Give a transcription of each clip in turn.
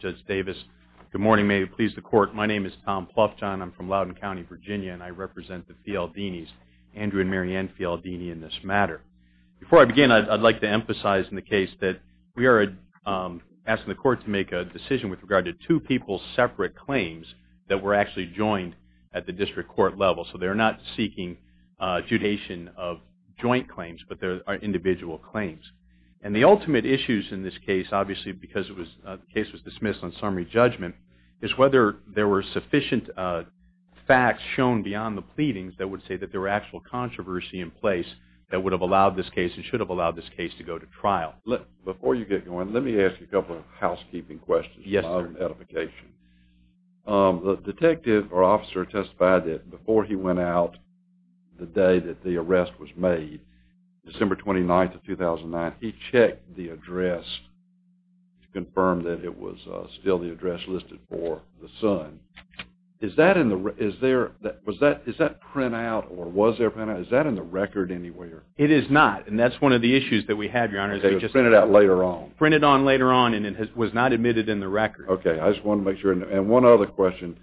Judge Davis. Good morning, may it please the court. My name is Tom Pluffjohn. I'm from Loudoun County, Virginia, and I represent the Fialdini's, Andrew and Marianne Fialdini, in this matter. Before I begin, I'd like to emphasize in the case that we are asking the court to make a decision with regard to two people's separate claims that were actually joined at the district court level. So they're not seeking judgation of joint claims, but they're individual claims. And the ultimate issues in this case, obviously because the case was dismissed on summary judgment, is whether there were sufficient facts shown beyond the pleadings that would say that there were actual controversy in place that would have allowed this case and should have allowed this case to go to trial. Before you get going, let me ask you a couple of housekeeping questions. The detective or officer testified that before he went out the day that the arrest was made, December 29th of 2009, he checked the address to confirm that it was still the address listed for the son. Is that print out or was there print out? Is that in the record anywhere? It is not, and that's one of the issues that we had, Your Honor. Okay, it was printed out later on. Printed on later on, and it was not admitted in the record. Okay, I just wanted to make sure. And one other question.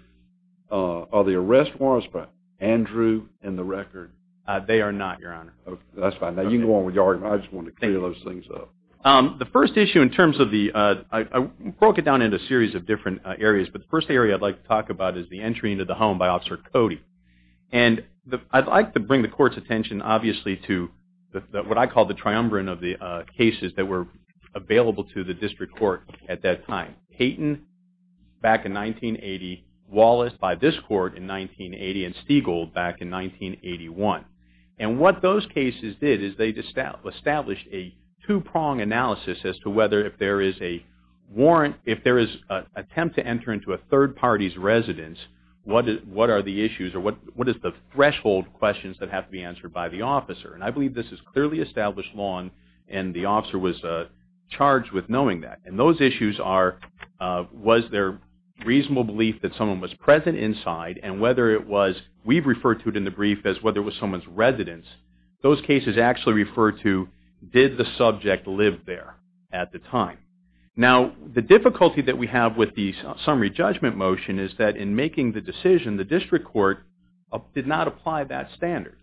Are the arrest warrants for Andrew in the record? They are not, Your Honor. Okay, that's fine. Now you can go on with your argument. I just wanted to clear those things up. Thank you. The first issue in terms of the – I broke it down into a series of different areas, but the first area I'd like to talk about is the entry into the home by Officer Cody. And I'd like to bring the court's attention obviously to what I call the triumvirate of the cases that were available to the district court at that time. Payton back in 1980, Wallace by this court in 1980, and Stiegel back in 1981. And what those cases did is they established a two-prong analysis as to whether if there is a warrant, if there is an attempt to enter into a third party's residence, what are the issues or what is the threshold questions that have to be answered by the officer? And I believe this is clearly established law, and the officer was charged with knowing that. And those issues are was there reasonable belief that someone was present inside, and whether it was – we've referred to it in the brief as whether it was someone's residence. Those cases actually refer to did the subject live there at the time. Now, the difficulty that we have with the summary judgment motion is that in making the decision, the district court did not apply that standard.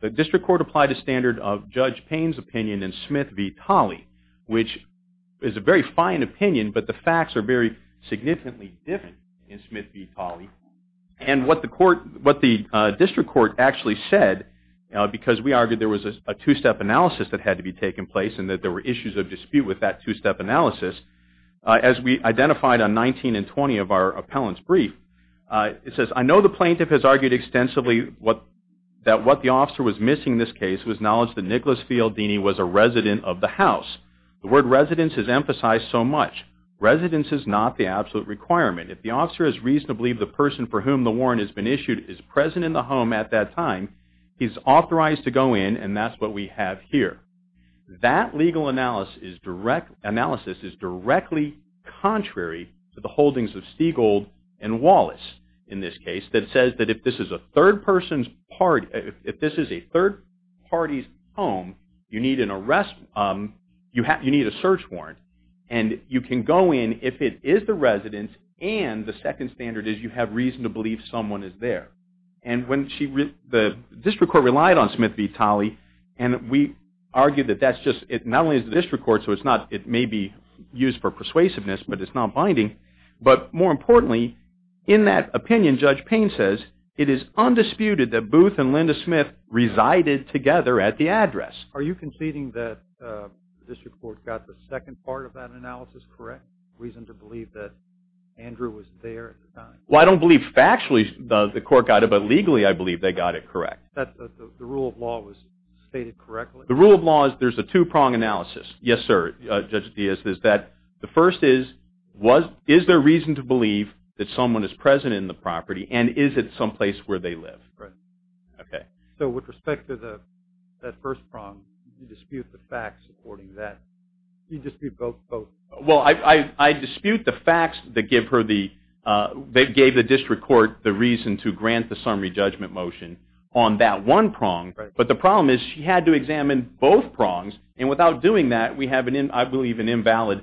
The district court applied a standard of Judge Payne's opinion in Smith v. Tolley, which is a very fine opinion, but the facts are very significantly different in Smith v. Tolley. And what the court – what the district court actually said, because we argued there was a two-step analysis that had to be taking place and that there were issues of dispute with that two-step analysis, as we identified on 19 and 20 of our appellant's brief, it says, I know the plaintiff has argued extensively that what the officer was missing in this case was knowledge that Nicholas Fialdini was a resident of the house. The word residence is emphasized so much. Residence is not the absolute requirement. If the officer has reason to believe the person for whom the warrant has been issued is present in the home at that time, he's authorized to go in, and that's what we have here. That legal analysis is directly contrary to the holdings of Stiegold and Wallace in this case, that says that if this is a third person's – if this is a third party's home, you need an arrest – you need a search warrant, and you can go in if it is the resident and the second standard is you have reason to believe someone is there. And when she – the district court relied on Smith v. Talley, and we argue that that's just – it not only is the district court, so it's not – it may be used for persuasiveness, but it's not binding, but more importantly, in that opinion, Judge Payne says, it is undisputed that Booth and Linda Smith resided together at the address. Are you conceding that the district court got the second part of that analysis correct, reason to believe that Andrew was there at the time? Well, I don't believe factually the court got it, but legally I believe they got it correct. The rule of law was stated correctly? The rule of law is there's a two-prong analysis. Yes, sir, Judge Diaz. The first is, is there reason to believe that someone is present in the property, and is it someplace where they live? Right. Okay. So with respect to that first prong, you dispute the facts according to that. You dispute both. Well, I dispute the facts that gave the district court the reason to grant the summary judgment motion on that one prong, but the problem is she had to examine both prongs, and without doing that, we have, I believe, an invalid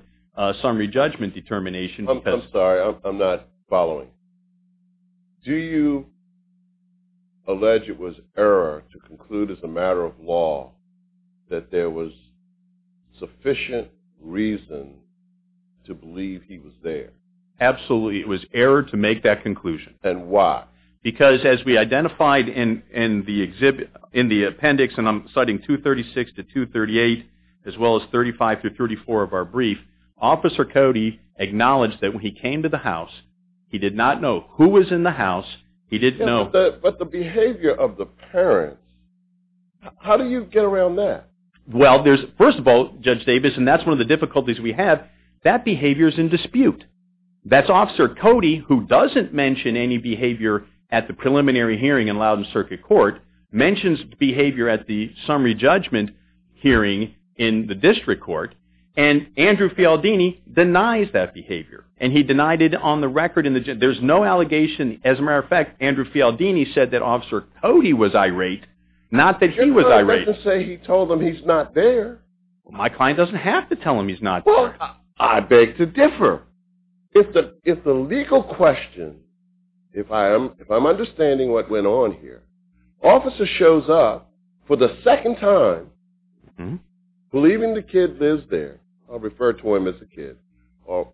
summary judgment determination. I'm sorry. I'm not following. Do you allege it was error to conclude as a matter of law that there was sufficient reason to believe he was there? Absolutely. It was error to make that conclusion. And why? Because as we identified in the appendix, and I'm citing 236 to 238, as well as 35 to 34 of our brief, Officer Cody acknowledged that when he came to the house, he did not know who was in the house. He didn't know. But the behavior of the parent, how do you get around that? Well, first of all, Judge Davis, and that's one of the difficulties we have, that behavior is in dispute. That's Officer Cody, who doesn't mention any behavior at the preliminary hearing in Loudon Circuit Court, mentions behavior at the summary judgment hearing in the district court, and Andrew Fialdini denies that behavior. And he denied it on the record. There's no allegation. As a matter of fact, Andrew Fialdini said that Officer Cody was irate, not that he was irate. He doesn't say he told them he's not there. My client doesn't have to tell them he's not there. I beg to differ. If the legal question, if I'm understanding what went on here, officer shows up for the second time, believing the kid lives there. I'll refer to him as a kid,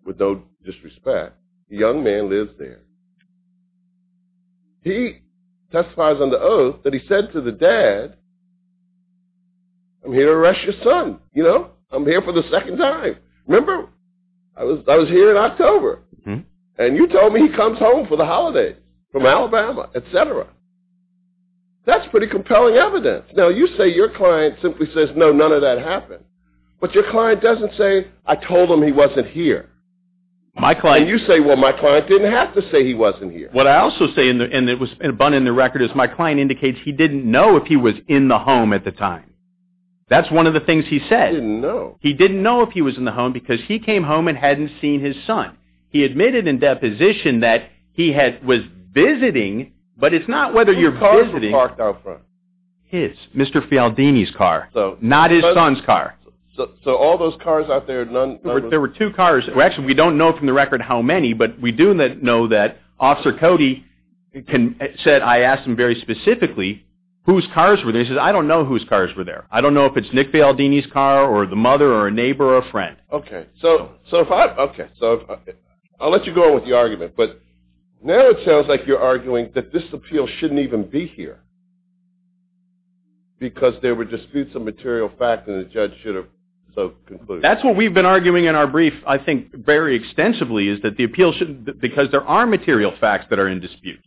with no disrespect. The young man lives there. He testifies under oath that he said to the dad, I'm here to arrest your son. You know, I'm here for the second time. Remember, I was here in October, and you told me he comes home for the holiday from Alabama, etc. That's pretty compelling evidence. Now, you say your client simply says, no, none of that happened. But your client doesn't say, I told him he wasn't here. And you say, well, my client didn't have to say he wasn't here. What I also say, and it was spun in the record, is my client indicates he didn't know if he was in the home at the time. That's one of the things he said. He didn't know. He didn't know if he was in the home, because he came home and hadn't seen his son. He admitted in deposition that he was visiting, but it's not whether you're visiting. Two cars were parked out front. His. Mr. Fialdini's car. Not his son's car. So all those cars out there, none? There were two cars. Actually, we don't know from the record how many, but we do know that Officer Cody said I asked him very specifically whose cars were there. He says, I don't know whose cars were there. I don't know if it's Nick Fialdini's car or the mother or a neighbor or a friend. Okay. So I'll let you go on with your argument. But now it sounds like you're arguing that this appeal shouldn't even be here, because there were disputes of material fact and the judge should have concluded. That's what we've been arguing in our brief, I think, very extensively, is that the appeal shouldn't, because there are material facts that are in dispute.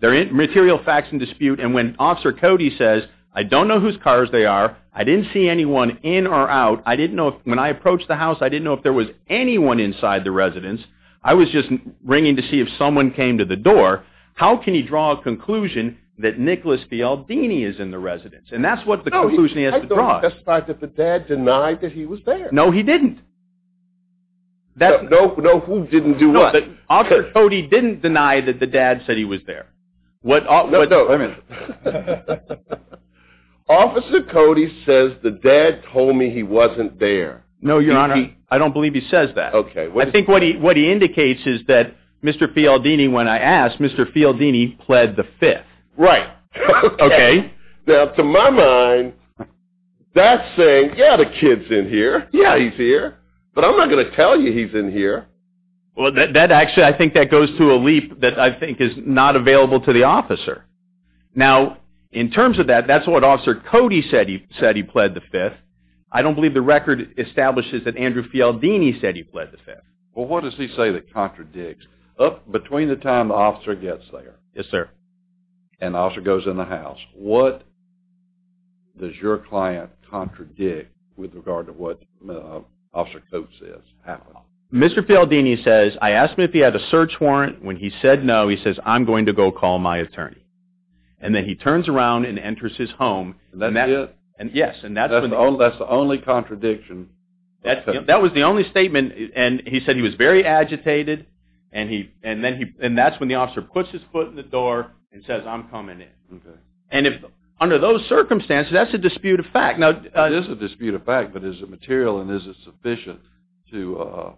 There are material facts in dispute. And when Officer Cody says, I don't know whose cars they are. I didn't see anyone in or out. I didn't know, when I approached the house, I didn't know if there was anyone inside the residence. I was just ringing to see if someone came to the door. How can you draw a conclusion that Nicholas Fialdini is in the residence? And that's what the conclusion he has to draw. That's fine, but the dad denied that he was there. No, he didn't. No, who didn't do what? Officer Cody didn't deny that the dad said he was there. No, no. Officer Cody says the dad told me he wasn't there. No, Your Honor. I don't believe he says that. Okay. I think what he indicates is that Mr. Fialdini, when I asked, Mr. Fialdini pled the fifth. Right. Okay. Now, to my mind, that's saying, yeah, the kid's in here. Yeah, he's here. But I'm not going to tell you he's in here. Well, that actually, I think that goes to a leap that I think is not available to the officer. Now, in terms of that, that's what Officer Cody said he pled the fifth. I don't believe the record establishes that Andrew Fialdini said he pled the fifth. Well, what does he say that contradicts? Between the time the officer gets there. Yes, sir. And the officer goes in the house. What does your client contradict with regard to what Officer Cody says happened? Mr. Fialdini says, I asked him if he had a search warrant. When he said no, he says, I'm going to go call my attorney. And then he turns around and enters his home. And that's it? Yes. And that's the only contradiction? That was the only statement. And he said he was very agitated. And that's when the officer puts his foot in the door and says, I'm coming in. Okay. And under those circumstances, that's a disputed fact. It is a disputed fact, but is it material and is it sufficient to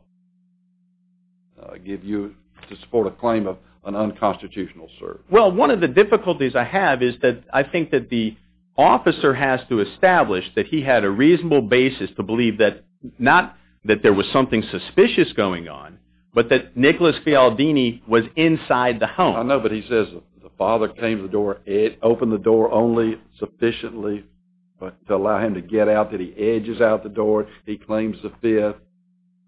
support a claim of an unconstitutional search? Well, one of the difficulties I have is that I think that the officer has to establish that he had a reasonable basis to believe that not that there was something suspicious going on, but that Nicholas Fialdini was inside the home. I know, but he says the father came to the door, opened the door only sufficiently to allow him to get out, that he edges out the door, he claims the theft.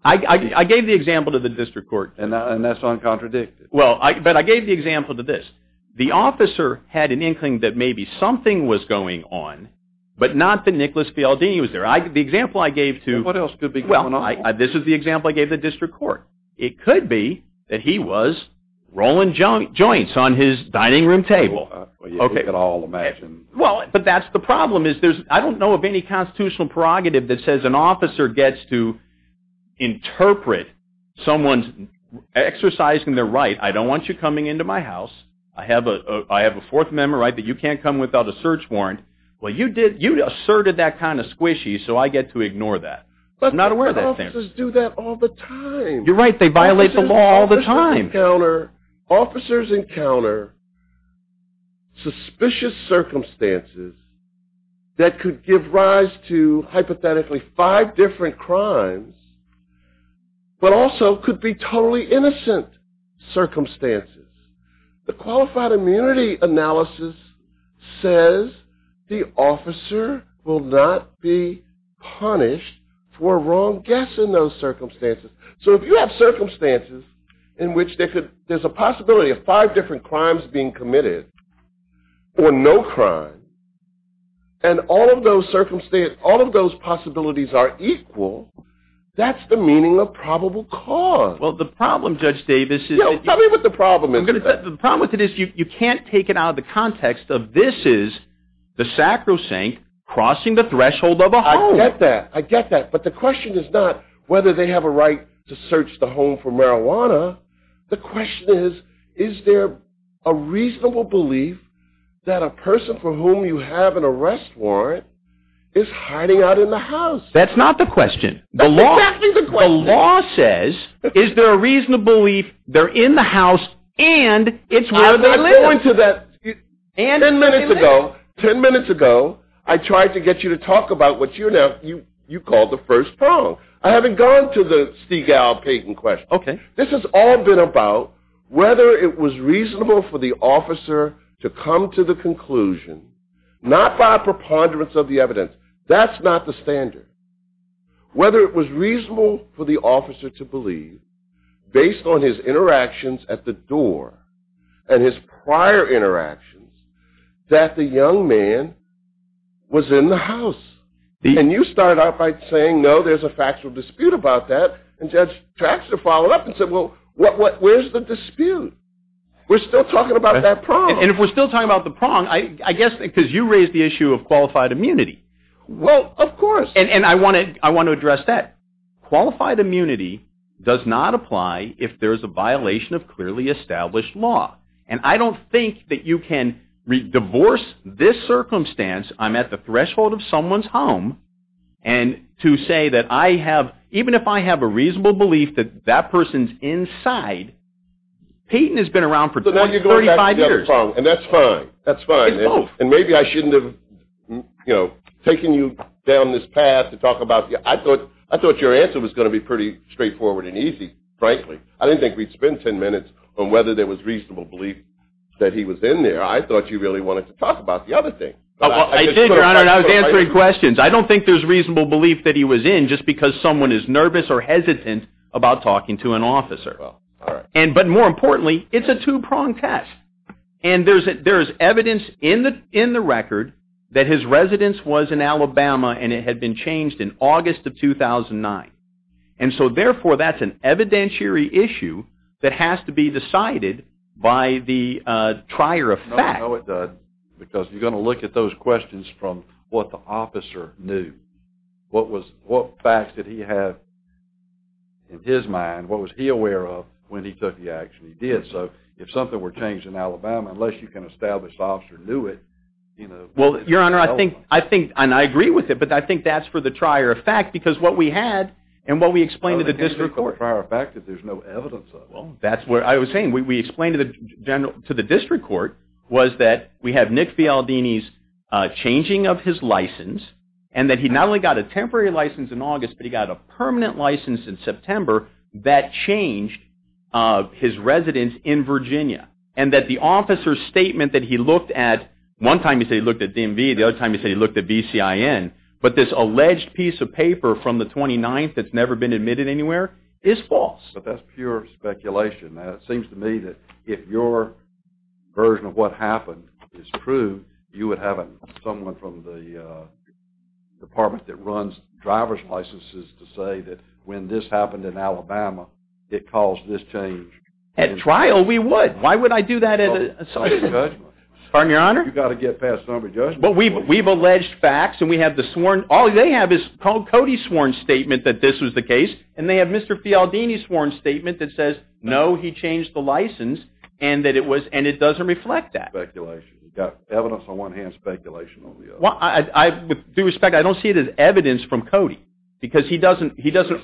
I gave the example to the district court. And that's uncontradicted? Well, but I gave the example to this. The officer had an inkling that maybe something was going on, but not that Nicholas Fialdini was there. The example I gave to – What else could be going on? Well, this is the example I gave the district court. It could be that he was rolling joints on his dining room table. Well, you could all imagine. Well, but that's the problem is I don't know of any constitutional prerogative that says an officer gets to interpret someone's exercising their right. I don't want you coming into my house. I have a Fourth Amendment right that you can't come without a search warrant. Well, you asserted that kind of squishy, so I get to ignore that. I'm not aware of that thing. But officers do that all the time. You're right. They violate the law all the time. Officers encounter suspicious circumstances that could give rise to hypothetically five different crimes, but also could be totally innocent circumstances. The qualified immunity analysis says the officer will not be punished for a wrong guess in those circumstances. So if you have circumstances in which there's a possibility of five different crimes being committed or no crime, and all of those possibilities are equal, that's the meaning of probable cause. Well, the problem, Judge Davis, is that you – Tell me what the problem is. The problem with it is you can't take it out of the context of this is the sacrosanct crossing the threshold of a home. I get that. I get that. But the question is not whether they have a right to search the home for marijuana. The question is, is there a reasonable belief that a person for whom you have an arrest warrant is hiding out in the house? That's exactly the question. The law says, is there a reasonable belief they're in the house and it's where they live. I'm going to that. And where they live. Ten minutes ago, I tried to get you to talk about what you call the first prong. I haven't gone to the Seagal-Payton question. This has all been about whether it was reasonable for the officer to come to the conclusion, not by a preponderance of the evidence. That's not the standard. Whether it was reasonable for the officer to believe, based on his interactions at the door and his prior interactions, that the young man was in the house. And you started out by saying, no, there's a factual dispute about that. And Judge Traxler followed up and said, well, where's the dispute? We're still talking about that prong. And if we're still talking about the prong, I guess because you raised the issue of qualified immunity. Well, of course. And I want to address that. Qualified immunity does not apply if there's a violation of clearly established law. And I don't think that you can divorce this circumstance. I'm at the threshold of someone's home. And to say that I have, even if I have a reasonable belief that that person's inside, Payton has been around for 35 years. And that's fine. That's fine. And maybe I shouldn't have taken you down this path to talk about it. I thought your answer was going to be pretty straightforward and easy, frankly. I didn't think we'd spend 10 minutes on whether there was reasonable belief that he was in there. I thought you really wanted to talk about the other thing. I did, Your Honor, and I was answering questions. I don't think there's reasonable belief that he was in just because someone is nervous or hesitant about talking to an officer. But more importantly, it's a two-prong test. And there is evidence in the record that his residence was in Alabama and it had been changed in August of 2009. And so, therefore, that's an evidentiary issue that has to be decided by the trier of fact. No, it doesn't. Because you're going to look at those questions from what the officer knew. What facts did he have in his mind? What was he aware of when he took the action he did? So, if something were changed in Alabama, unless you can establish the officer knew it, you know. Well, Your Honor, I think, and I agree with it, but I think that's for the trier of fact because what we had and what we explained to the district court. It's just a trier of fact that there's no evidence of. That's what I was saying. We explained to the district court was that we have Nick Fialdini's changing of his license and that he not only got a temporary license in August, but he got a permanent license in September that changed his residence in Virginia. And that the officer's statement that he looked at, one time he said he looked at DMV, the other time he said he looked at BCIN, but this alleged piece of paper from the 29th that's never been admitted anywhere is false. But that's pure speculation. It seems to me that if your version of what happened is true, you would have someone from the department that runs driver's licenses to say that when this happened in Alabama, it caused this change. At trial, we would. Why would I do that? You've got to get past some of the judgment. But we've alleged facts and we have the sworn, all they have is Cody's sworn statement that this was the case, and they have Mr. Fialdini's sworn statement that says, no, he changed the license, and it doesn't reflect that. Speculation. You've got evidence on one hand, speculation on the other. With due respect, I don't see it as evidence from Cody because he doesn't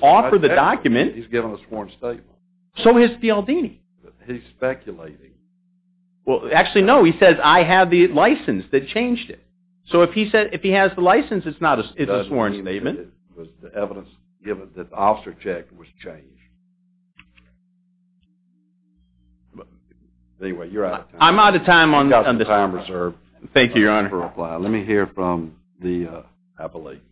offer the document. He's given a sworn statement. So has Fialdini. He's speculating. Well, actually, no. He says, I have the license that changed it. So if he has the license, it's a sworn statement. It doesn't mean that it was the evidence given, that the officer check was changed. Anyway, you're out of time. I'm out of time on this one. Thank you, Your Honor. Thank you for your reply. Let me hear from the appellate.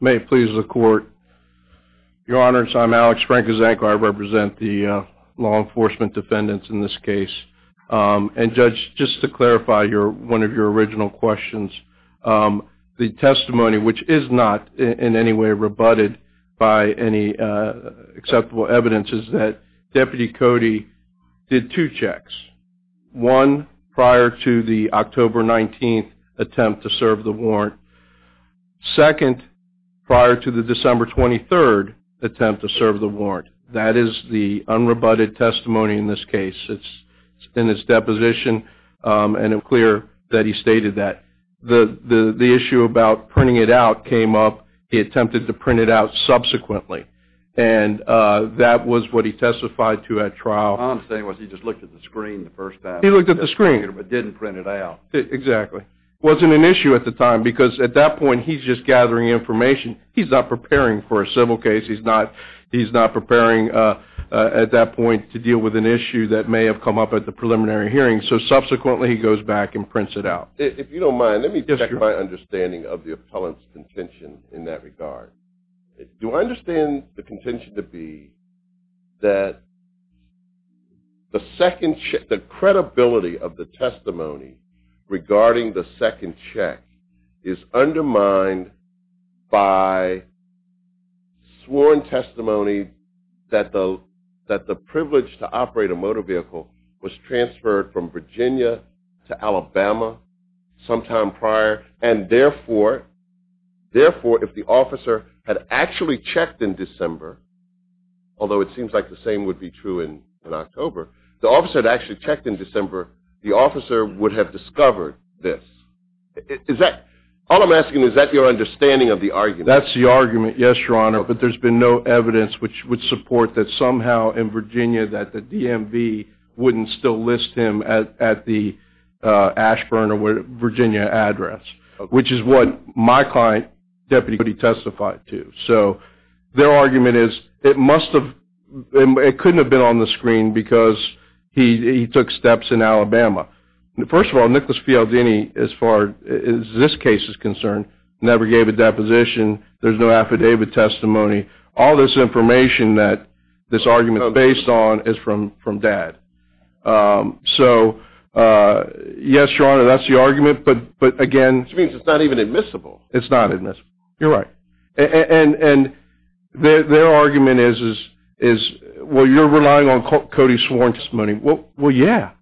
May it please the Court. Your Honors, I'm Alex Frankeczak. I represent the law enforcement defendants in this case. And, Judge, just to clarify one of your original questions, the testimony, which is not in any way rebutted by any acceptable evidence, is that Deputy Cody did two checks. One prior to the October 19th attempt to serve the warrant. Second, prior to the December 23rd attempt to serve the warrant. That is the unrebutted testimony in this case. It's in this deposition, and it's clear that he stated that. The issue about printing it out came up. He attempted to print it out subsequently. And that was what he testified to at trial. All I'm saying was he just looked at the screen the first time. He looked at the screen. But didn't print it out. Exactly. It wasn't an issue at the time because, at that point, he's just gathering information. He's not preparing for a civil case. He's not preparing, at that point, to deal with an issue that may have come up at the preliminary hearing. So, subsequently, he goes back and prints it out. If you don't mind, let me check my understanding of the appellant's contention in that regard. Do I understand the contention to be that the second check, if the credibility of the testimony regarding the second check is undermined by sworn testimony that the privilege to operate a motor vehicle was transferred from Virginia to Alabama sometime prior, and, therefore, if the officer had actually checked in December, although it seems like the same would be true in October, if the officer had actually checked in December, the officer would have discovered this. All I'm asking is, is that your understanding of the argument? That's the argument, yes, Your Honor. But there's been no evidence which would support that, somehow, in Virginia, that the DMV wouldn't still list him at the Ashburn or Virginia address, which is what my client, Deputy, testified to. Their argument is it couldn't have been on the screen because he took steps in Alabama. First of all, Nicholas Fialdini, as far as this case is concerned, never gave a deposition. There's no affidavit testimony. All this information that this argument is based on is from Dad. So, yes, Your Honor, that's the argument, but, again... Which means it's not even admissible. It's not admissible. You're right. And their argument is, well, you're relying on Cody's sworn testimony. Well, yeah.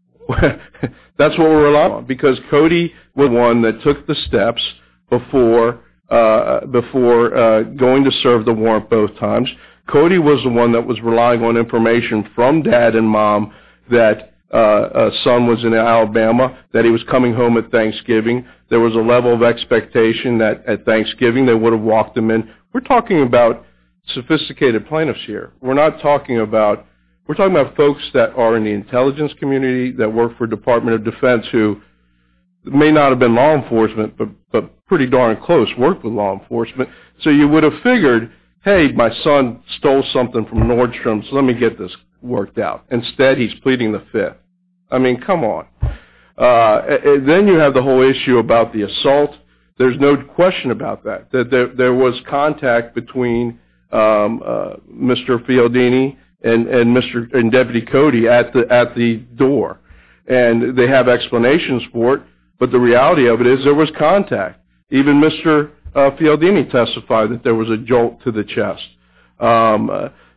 That's what we're relying on because Cody was the one that took the steps before going to serve the warrant both times. Cody was the one that was relying on information from Dad and Mom that a son was in Alabama, that he was coming home at Thanksgiving. There was a level of expectation that at Thanksgiving they would have walked him in. We're talking about sophisticated plaintiffs here. We're not talking about folks that are in the intelligence community, that work for the Department of Defense, who may not have been law enforcement but pretty darn close, worked with law enforcement. So you would have figured, hey, my son stole something from Nordstrom, so let me get this worked out. Instead, he's pleading the Fifth. I mean, come on. Then you have the whole issue about the assault. There's no question about that, that there was contact between Mr. Fialdini and Deputy Cody at the door. And they have explanations for it, but the reality of it is there was contact. Even Mr. Fialdini testified that there was a jolt to the chest.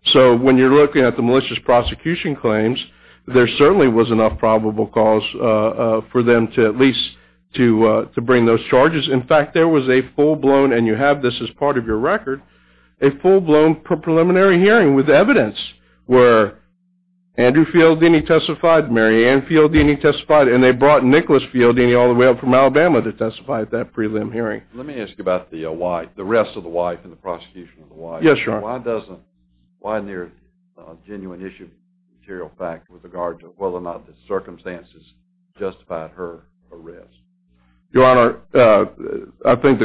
So when you're looking at the malicious prosecution claims, there certainly was enough probable cause for them to at least bring those charges. In fact, there was a full-blown, and you have this as part of your record, a full-blown preliminary hearing with evidence where Andrew Fialdini testified, Mary Ann Fialdini testified, and they brought Nicholas Fialdini all the way up from Alabama to testify at that prelim hearing. Let me ask you about the rest of the why from the prosecution of the why. Yes, sir. Why doesn't, why isn't there a genuine issue, material fact, with regard to whether or not the circumstances justified her arrest? Your Honor, I think,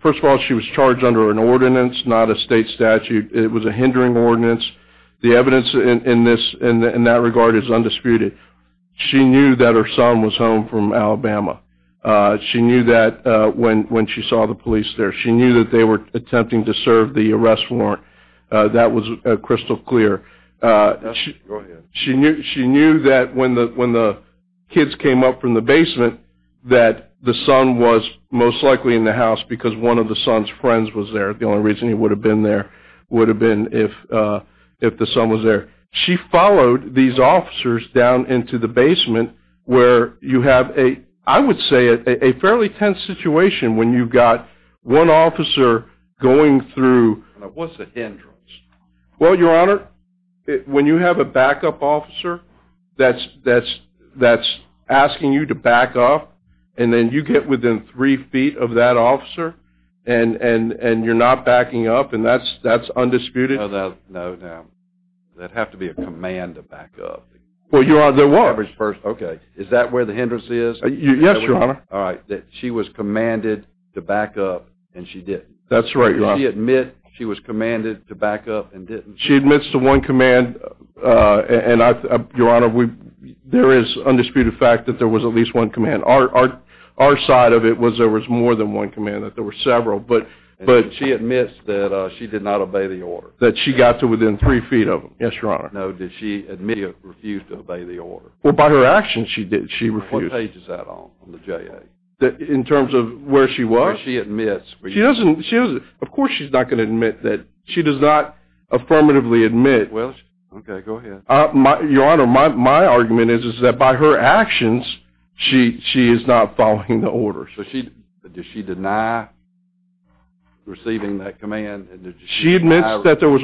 first of all, she was charged under an ordinance, not a state statute. It was a hindering ordinance. The evidence in that regard is undisputed. She knew that her son was home from Alabama. She knew that when she saw the police there. She knew that they were attempting to serve the arrest warrant. That was crystal clear. Go ahead. She knew that when the kids came up from the basement that the son was most likely in the house because one of the son's friends was there. The only reason he would have been there would have been if the son was there. She followed these officers down into the basement where you have a, I would say, a fairly tense situation when you've got one officer going through. What's the hindrance? Well, Your Honor, when you have a backup officer that's asking you to back off and then you get within three feet of that officer and you're not backing up, and that's undisputed. No, no. That'd have to be a command to back up. Well, Your Honor, there was. Okay. Is that where the hindrance is? Yes, Your Honor. All right. That she was commanded to back up and she didn't. That's right, Your Honor. Did she admit she was commanded to back up and didn't? She admits to one command, and, Your Honor, there is undisputed fact that there was at least one command. Our side of it was there was more than one command. There were several, but. She admits that she did not obey the order. That she got to within three feet of them. Yes, Your Honor. No, did she admit or refuse to obey the order? Well, by her actions, she refused. What page is that on, on the JA? In terms of where she was? Where she admits. She doesn't. Of course she's not going to admit that. She does not affirmatively admit. Well, okay, go ahead. Your Honor, my argument is that by her actions, she is not following the order. So does she deny receiving that command? She admits that there was.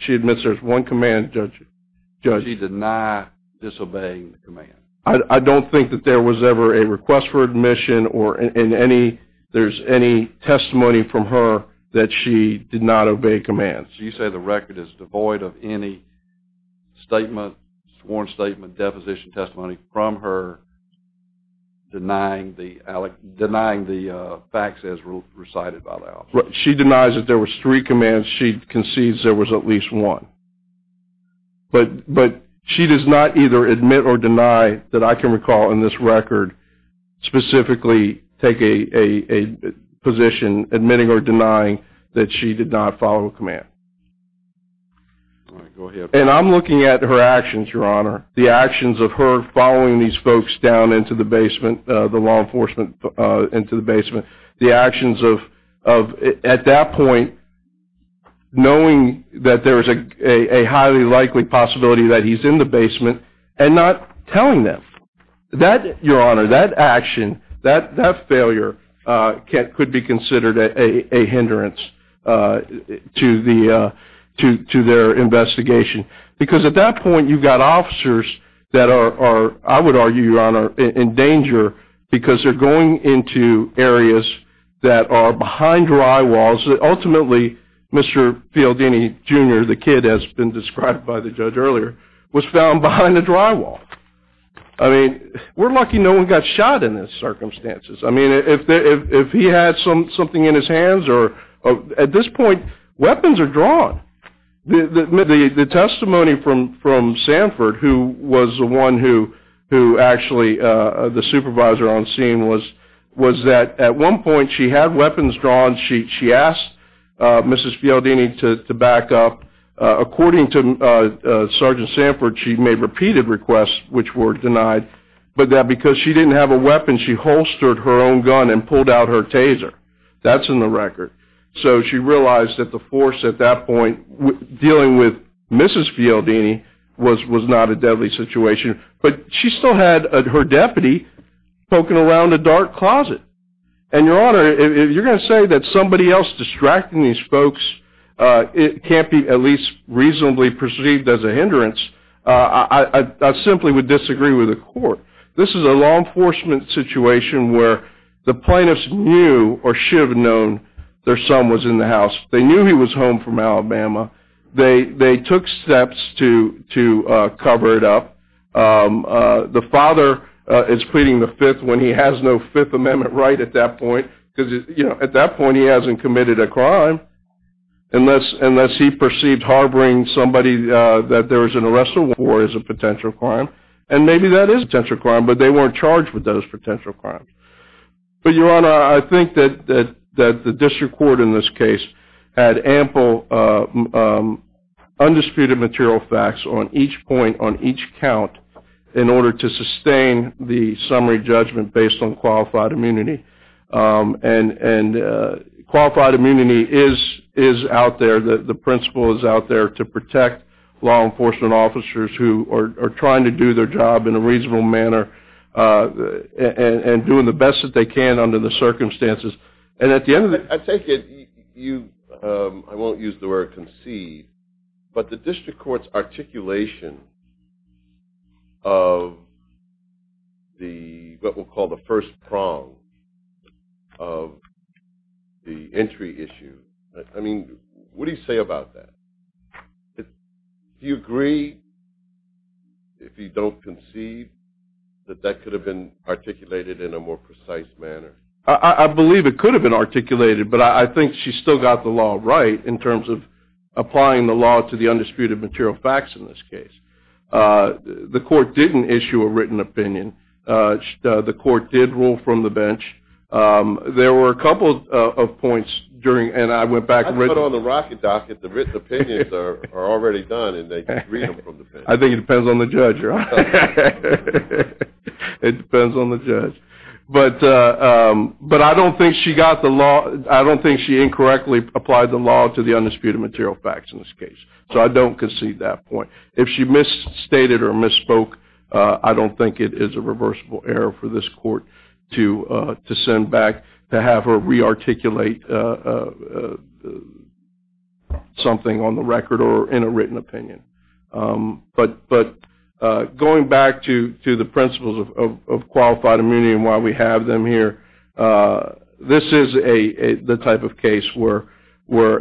She admits there was one command, Judge. Does she deny disobeying the command? I don't think that there was ever a request for admission or there's any testimony from her that she did not obey commands. So you say the record is devoid of any statement, sworn statement, deposition testimony from her denying the facts as recited by the officer. She denies that there was three commands. She concedes there was at least one. But she does not either admit or deny that I can recall in this record specifically take a position admitting or denying that she did not follow a command. All right, go ahead. And I'm looking at her actions, Your Honor, the actions of her following these folks down into the basement, the law enforcement into the basement, the actions of, at that point, knowing that there is a highly likely possibility that he's in the basement and not telling them. That, Your Honor, that action, that failure, could be considered a hindrance to their investigation because at that point you've got officers that are, I would argue, Your Honor, in danger because they're going into areas that are behind dry walls that ultimately Mr. Fialdini, Jr., the kid as been described by the judge earlier, was found behind a dry wall. I mean, we're lucky no one got shot in those circumstances. I mean, if he had something in his hands or, at this point, weapons are drawn. The testimony from Sanford, who was the one who actually, the supervisor on scene, was that at one point she had weapons drawn. She asked Mrs. Fialdini to back up. According to Sergeant Sanford, she made repeated requests which were denied. But because she didn't have a weapon, she holstered her own gun and pulled out her taser. That's in the record. So she realized that the force at that point, dealing with Mrs. Fialdini, was not a deadly situation. But she still had her deputy poking around a dark closet. And, Your Honor, if you're going to say that somebody else distracting these folks can't be at least reasonably perceived as a hindrance, I simply would disagree with the court. This is a law enforcement situation where the plaintiffs knew or should have known their son was in the house. They knew he was home from Alabama. They took steps to cover it up. The father is pleading the fifth when he has no Fifth Amendment right at that point because, you know, at that point he hasn't committed a crime unless he perceived harboring somebody that there was an arrest or war as a potential crime. And maybe that is a potential crime, but they weren't charged with those potential crimes. But, Your Honor, I think that the district court in this case had ample undisputed material facts on each point, on each count, in order to sustain the summary judgment based on qualified immunity. And qualified immunity is out there. The principle is out there to protect law enforcement officers who are trying to do their job in a reasonable manner and doing the best that they can under the circumstances. I take it you, I won't use the word conceive, but the district court's articulation of what we'll call the first prong of the entry issue. I mean, what do you say about that? Do you agree, if you don't conceive, that that could have been articulated in a more precise manner? I believe it could have been articulated, but I think she still got the law right in terms of applying the law to the undisputed material facts in this case. The court didn't issue a written opinion. The court did rule from the bench. There were a couple of points during, and I went back and read. How do you put on the rocket dock if the written opinions are already done and they can read them from the bench? I think it depends on the judge, Your Honor. It depends on the judge. But I don't think she incorrectly applied the law to the undisputed material facts in this case, so I don't conceive that point. If she misstated or misspoke, I don't think it is a reversible error for this court to send back to have her rearticulate something on the record or in a written opinion. But going back to the principles of qualified immunity and why we have them here, this is the type of case where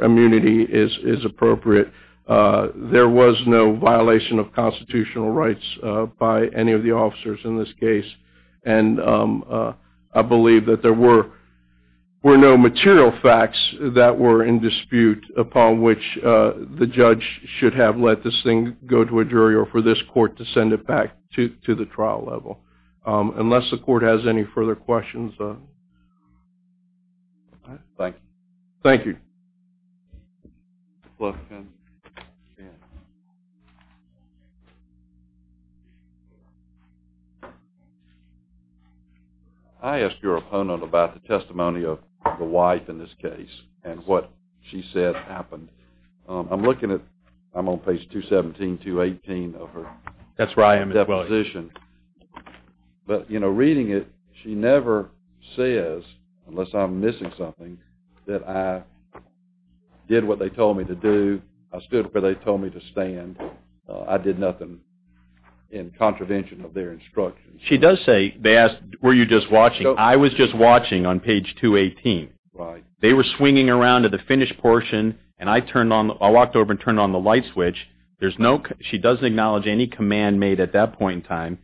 immunity is appropriate. There was no violation of constitutional rights by any of the officers in this case, and I believe that there were no material facts that were in dispute upon which the judge should have let this thing go to a jury or for this court to send it back to the trial level. Unless the court has any further questions. Thank you. Thank you. I asked your opponent about the testimony of the wife in this case and what she said happened. I'm looking at, I'm on page 217, 218 of her deposition. That's where I am as well. But reading it, she never says, unless I'm missing something, that I did what they told me to do, I stood where they told me to stand, I did nothing in contravention of their instructions. She does say, they asked, were you just watching? I was just watching on page 218. They were swinging around to the finished portion, and I turned on, I walked over and turned on the light switch. There's no, she doesn't acknowledge any command made at that point in time.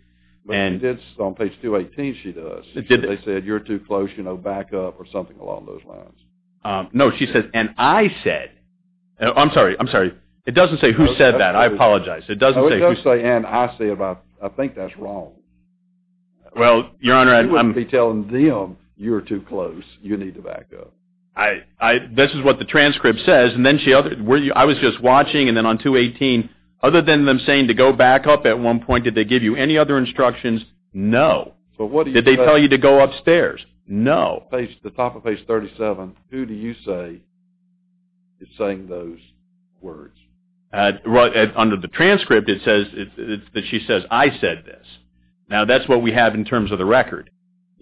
But she did, on page 218 she does. They said, you're too close, you know, back up, or something along those lines. No, she says, and I said, I'm sorry, I'm sorry. It doesn't say who said that. I apologize. It doesn't say who said that. No, it doesn't say, and I said, I think that's wrong. Well, Your Honor, I'm. You wouldn't be telling them, you're too close, you need to back up. This is what the transcript says, and then she, I was just watching, and then on 218, other than them saying to go back up at one point, did they give you any other instructions? No. Did they tell you to go upstairs? No. The top of page 37, who do you say is saying those words? Under the transcript, it says that she says, I said this. Now, that's what we have in terms of the record,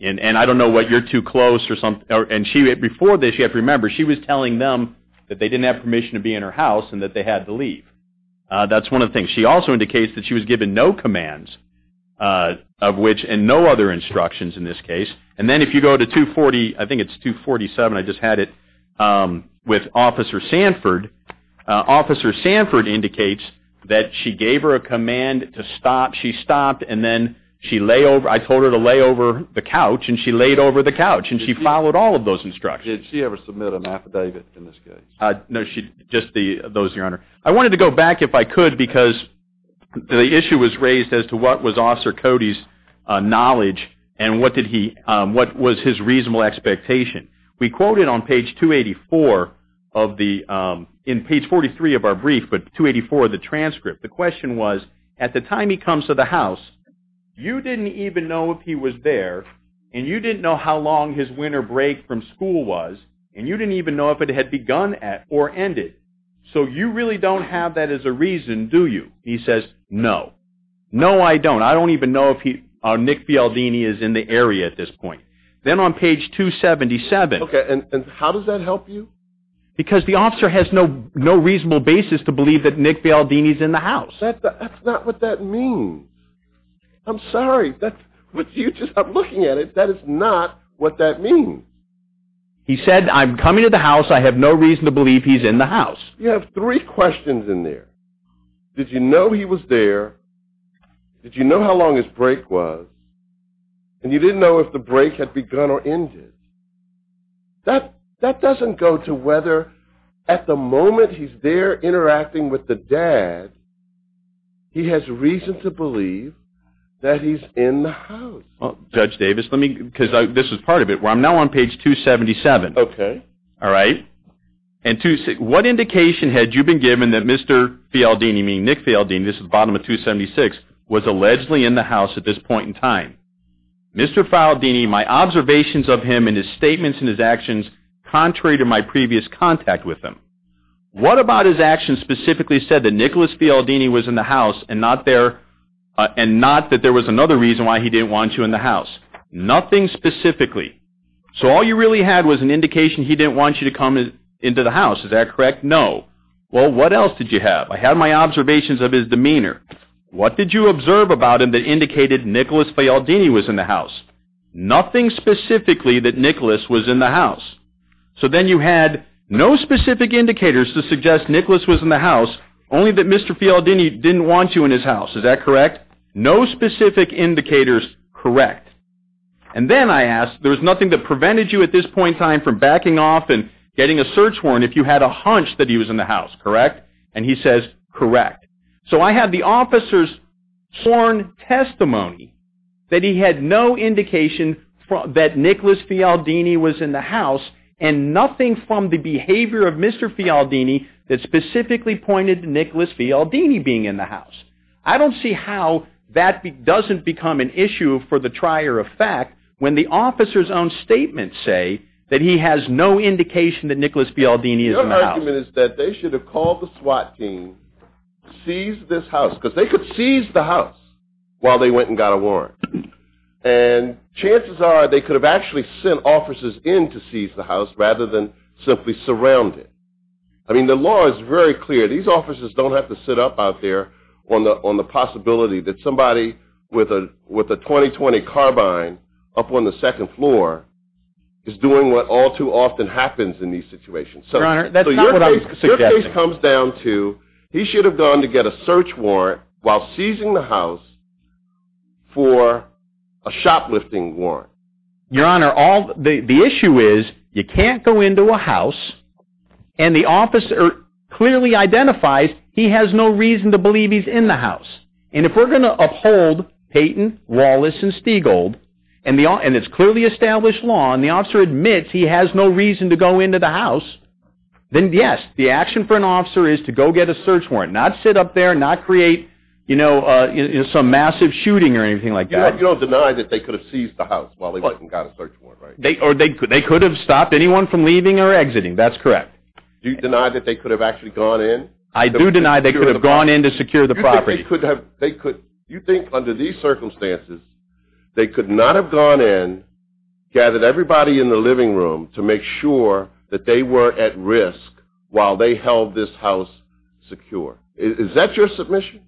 and I don't know what you're too close or something, and before this, you have to remember, she was telling them that they didn't have permission to be in her house and that they had to leave. That's one of the things. She also indicates that she was given no commands of which, and no other instructions in this case. And then if you go to 240, I think it's 247, I just had it, with Officer Sanford. Officer Sanford indicates that she gave her a command to stop. She stopped, and then I told her to lay over the couch, and she laid over the couch, and she followed all of those instructions. Did she ever submit an affidavit in this case? No, just those, Your Honor. I wanted to go back, if I could, because the issue was raised as to what was Officer Cody's knowledge and what was his reasonable expectation. We quoted on page 284 of the – in page 43 of our brief, but 284 of the transcript. The question was, at the time he comes to the house, you didn't even know if he was there, and you didn't know how long his winter break from school was, and you didn't even know if it had begun or ended. So you really don't have that as a reason, do you? He says, no. No, I don't. I don't even know if Nick Fialdini is in the area at this point. Then on page 277. Okay, and how does that help you? Because the officer has no reasonable basis to believe that Nick Fialdini is in the house. That's not what that means. I'm sorry, but you just are looking at it. That is not what that means. He said, I'm coming to the house. I have no reason to believe he's in the house. You have three questions in there. Did you know he was there? Did you know how long his break was? And you didn't know if the break had begun or ended. That doesn't go to whether, at the moment he's there interacting with the dad, he has reason to believe that he's in the house. Judge Davis, let me, because this is part of it, where I'm now on page 277. Okay. All right? And what indication had you been given that Mr. Fialdini, meaning Nick Fialdini, this is the bottom of 276, was allegedly in the house at this point in time? Mr. Fialdini, my observations of him and his statements and his actions, contrary to my previous contact with him. What about his actions specifically said that Nicholas Fialdini was in the house and not that there was another reason why he didn't want you in the house? Nothing specifically. So all you really had was an indication he didn't want you to come into the house. Is that correct? No. Well, what else did you have? I have my observations of his demeanor. What did you observe about him that indicated Nicholas Fialdini was in the house? Nothing specifically that Nicholas was in the house. So then you had no specific indicators to suggest Nicholas was in the house, only that Mr. Fialdini didn't want you in his house. Is that correct? No specific indicators, correct. And then I asked, there was nothing that prevented you at this point in time from backing off and getting a search warrant if you had a hunch that he was in the house, correct? And he says, correct. So I have the officer's sworn testimony that he had no indication that Nicholas Fialdini was in the house and nothing from the behavior of Mr. Fialdini that specifically pointed to Nicholas Fialdini being in the house. I don't see how that doesn't become an issue for the trier of fact when the officer's own statements say that he has no indication that Nicholas Fialdini is in the house. My argument is that they should have called the SWAT team, seized this house, because they could seize the house while they went and got a warrant. And chances are, they could have actually sent officers in to seize the house rather than simply surround it. I mean, the law is very clear. These officers don't have to sit up out there on the possibility that somebody with a 20-20 carbine up on the second floor is doing what all too often happens in these situations. Your Honor, that's not what I'm suggesting. Your case comes down to he should have gone to get a search warrant while seizing the house for a shoplifting warrant. Your Honor, the issue is you can't go into a house and the officer clearly identifies he has no reason to believe he's in the house. And if we're going to uphold Payton, Wallace, and Stiegold and it's clearly established law and the officer admits he has no reason to go into the house, then yes, the action for an officer is to go get a search warrant. Not sit up there, not create some massive shooting or anything like that. You don't deny that they could have seized the house while they went and got a search warrant, right? They could have stopped anyone from leaving or exiting. That's correct. Do you deny that they could have actually gone in? I do deny they could have gone in to secure the property. You think under these circumstances they could not have gone in, gathered everybody in the living room to make sure that they were at risk while they held this house secure. Is that your submission?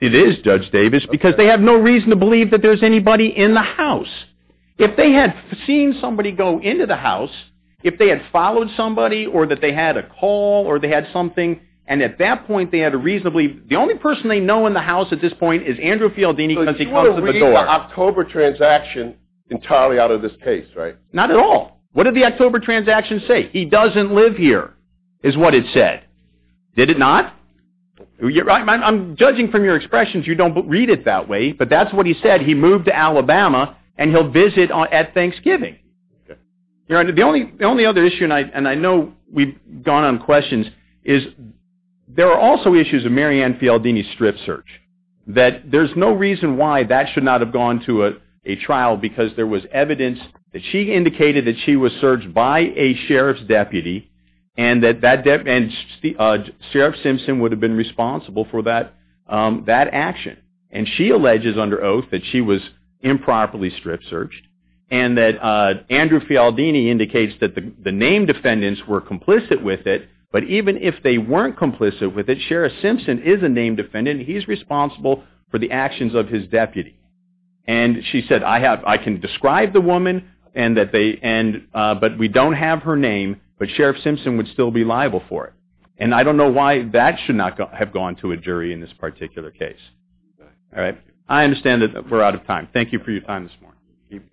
It is, Judge Davis, because they have no reason to believe that there's anybody in the house. If they had seen somebody go into the house, if they had followed somebody or that they had a call or they had something and at that point they had a reasonably... The only person they know in the house at this point is Andrew Fialdini because he comes to the door. So you want to read the October transaction entirely out of this case, right? Not at all. What did the October transaction say? He doesn't live here, is what it said. Did it not? I'm judging from your expressions, you don't read it that way, but that's what he said. He moved to Alabama and he'll visit at Thanksgiving. The only other issue, and I know we've gone on questions, is there are also issues of Mary Ann Fialdini's strip search. There's no reason why that should not have gone to a trial because there was evidence that she indicated that she was searched by a sheriff's deputy and that Sheriff Simpson would have been responsible for that action. And she alleges under oath that she was improperly strip searched and that Andrew Fialdini indicates that the named defendants were complicit with it, but even if they weren't complicit with it, Sheriff Simpson is a named defendant and he's responsible for the actions of his deputy. And she said, I can describe the woman, but we don't have her name, but Sheriff Simpson would still be liable for it. And I don't know why that should not have gone to a jury in this particular case. I understand that we're out of time. Thank you for your time this morning.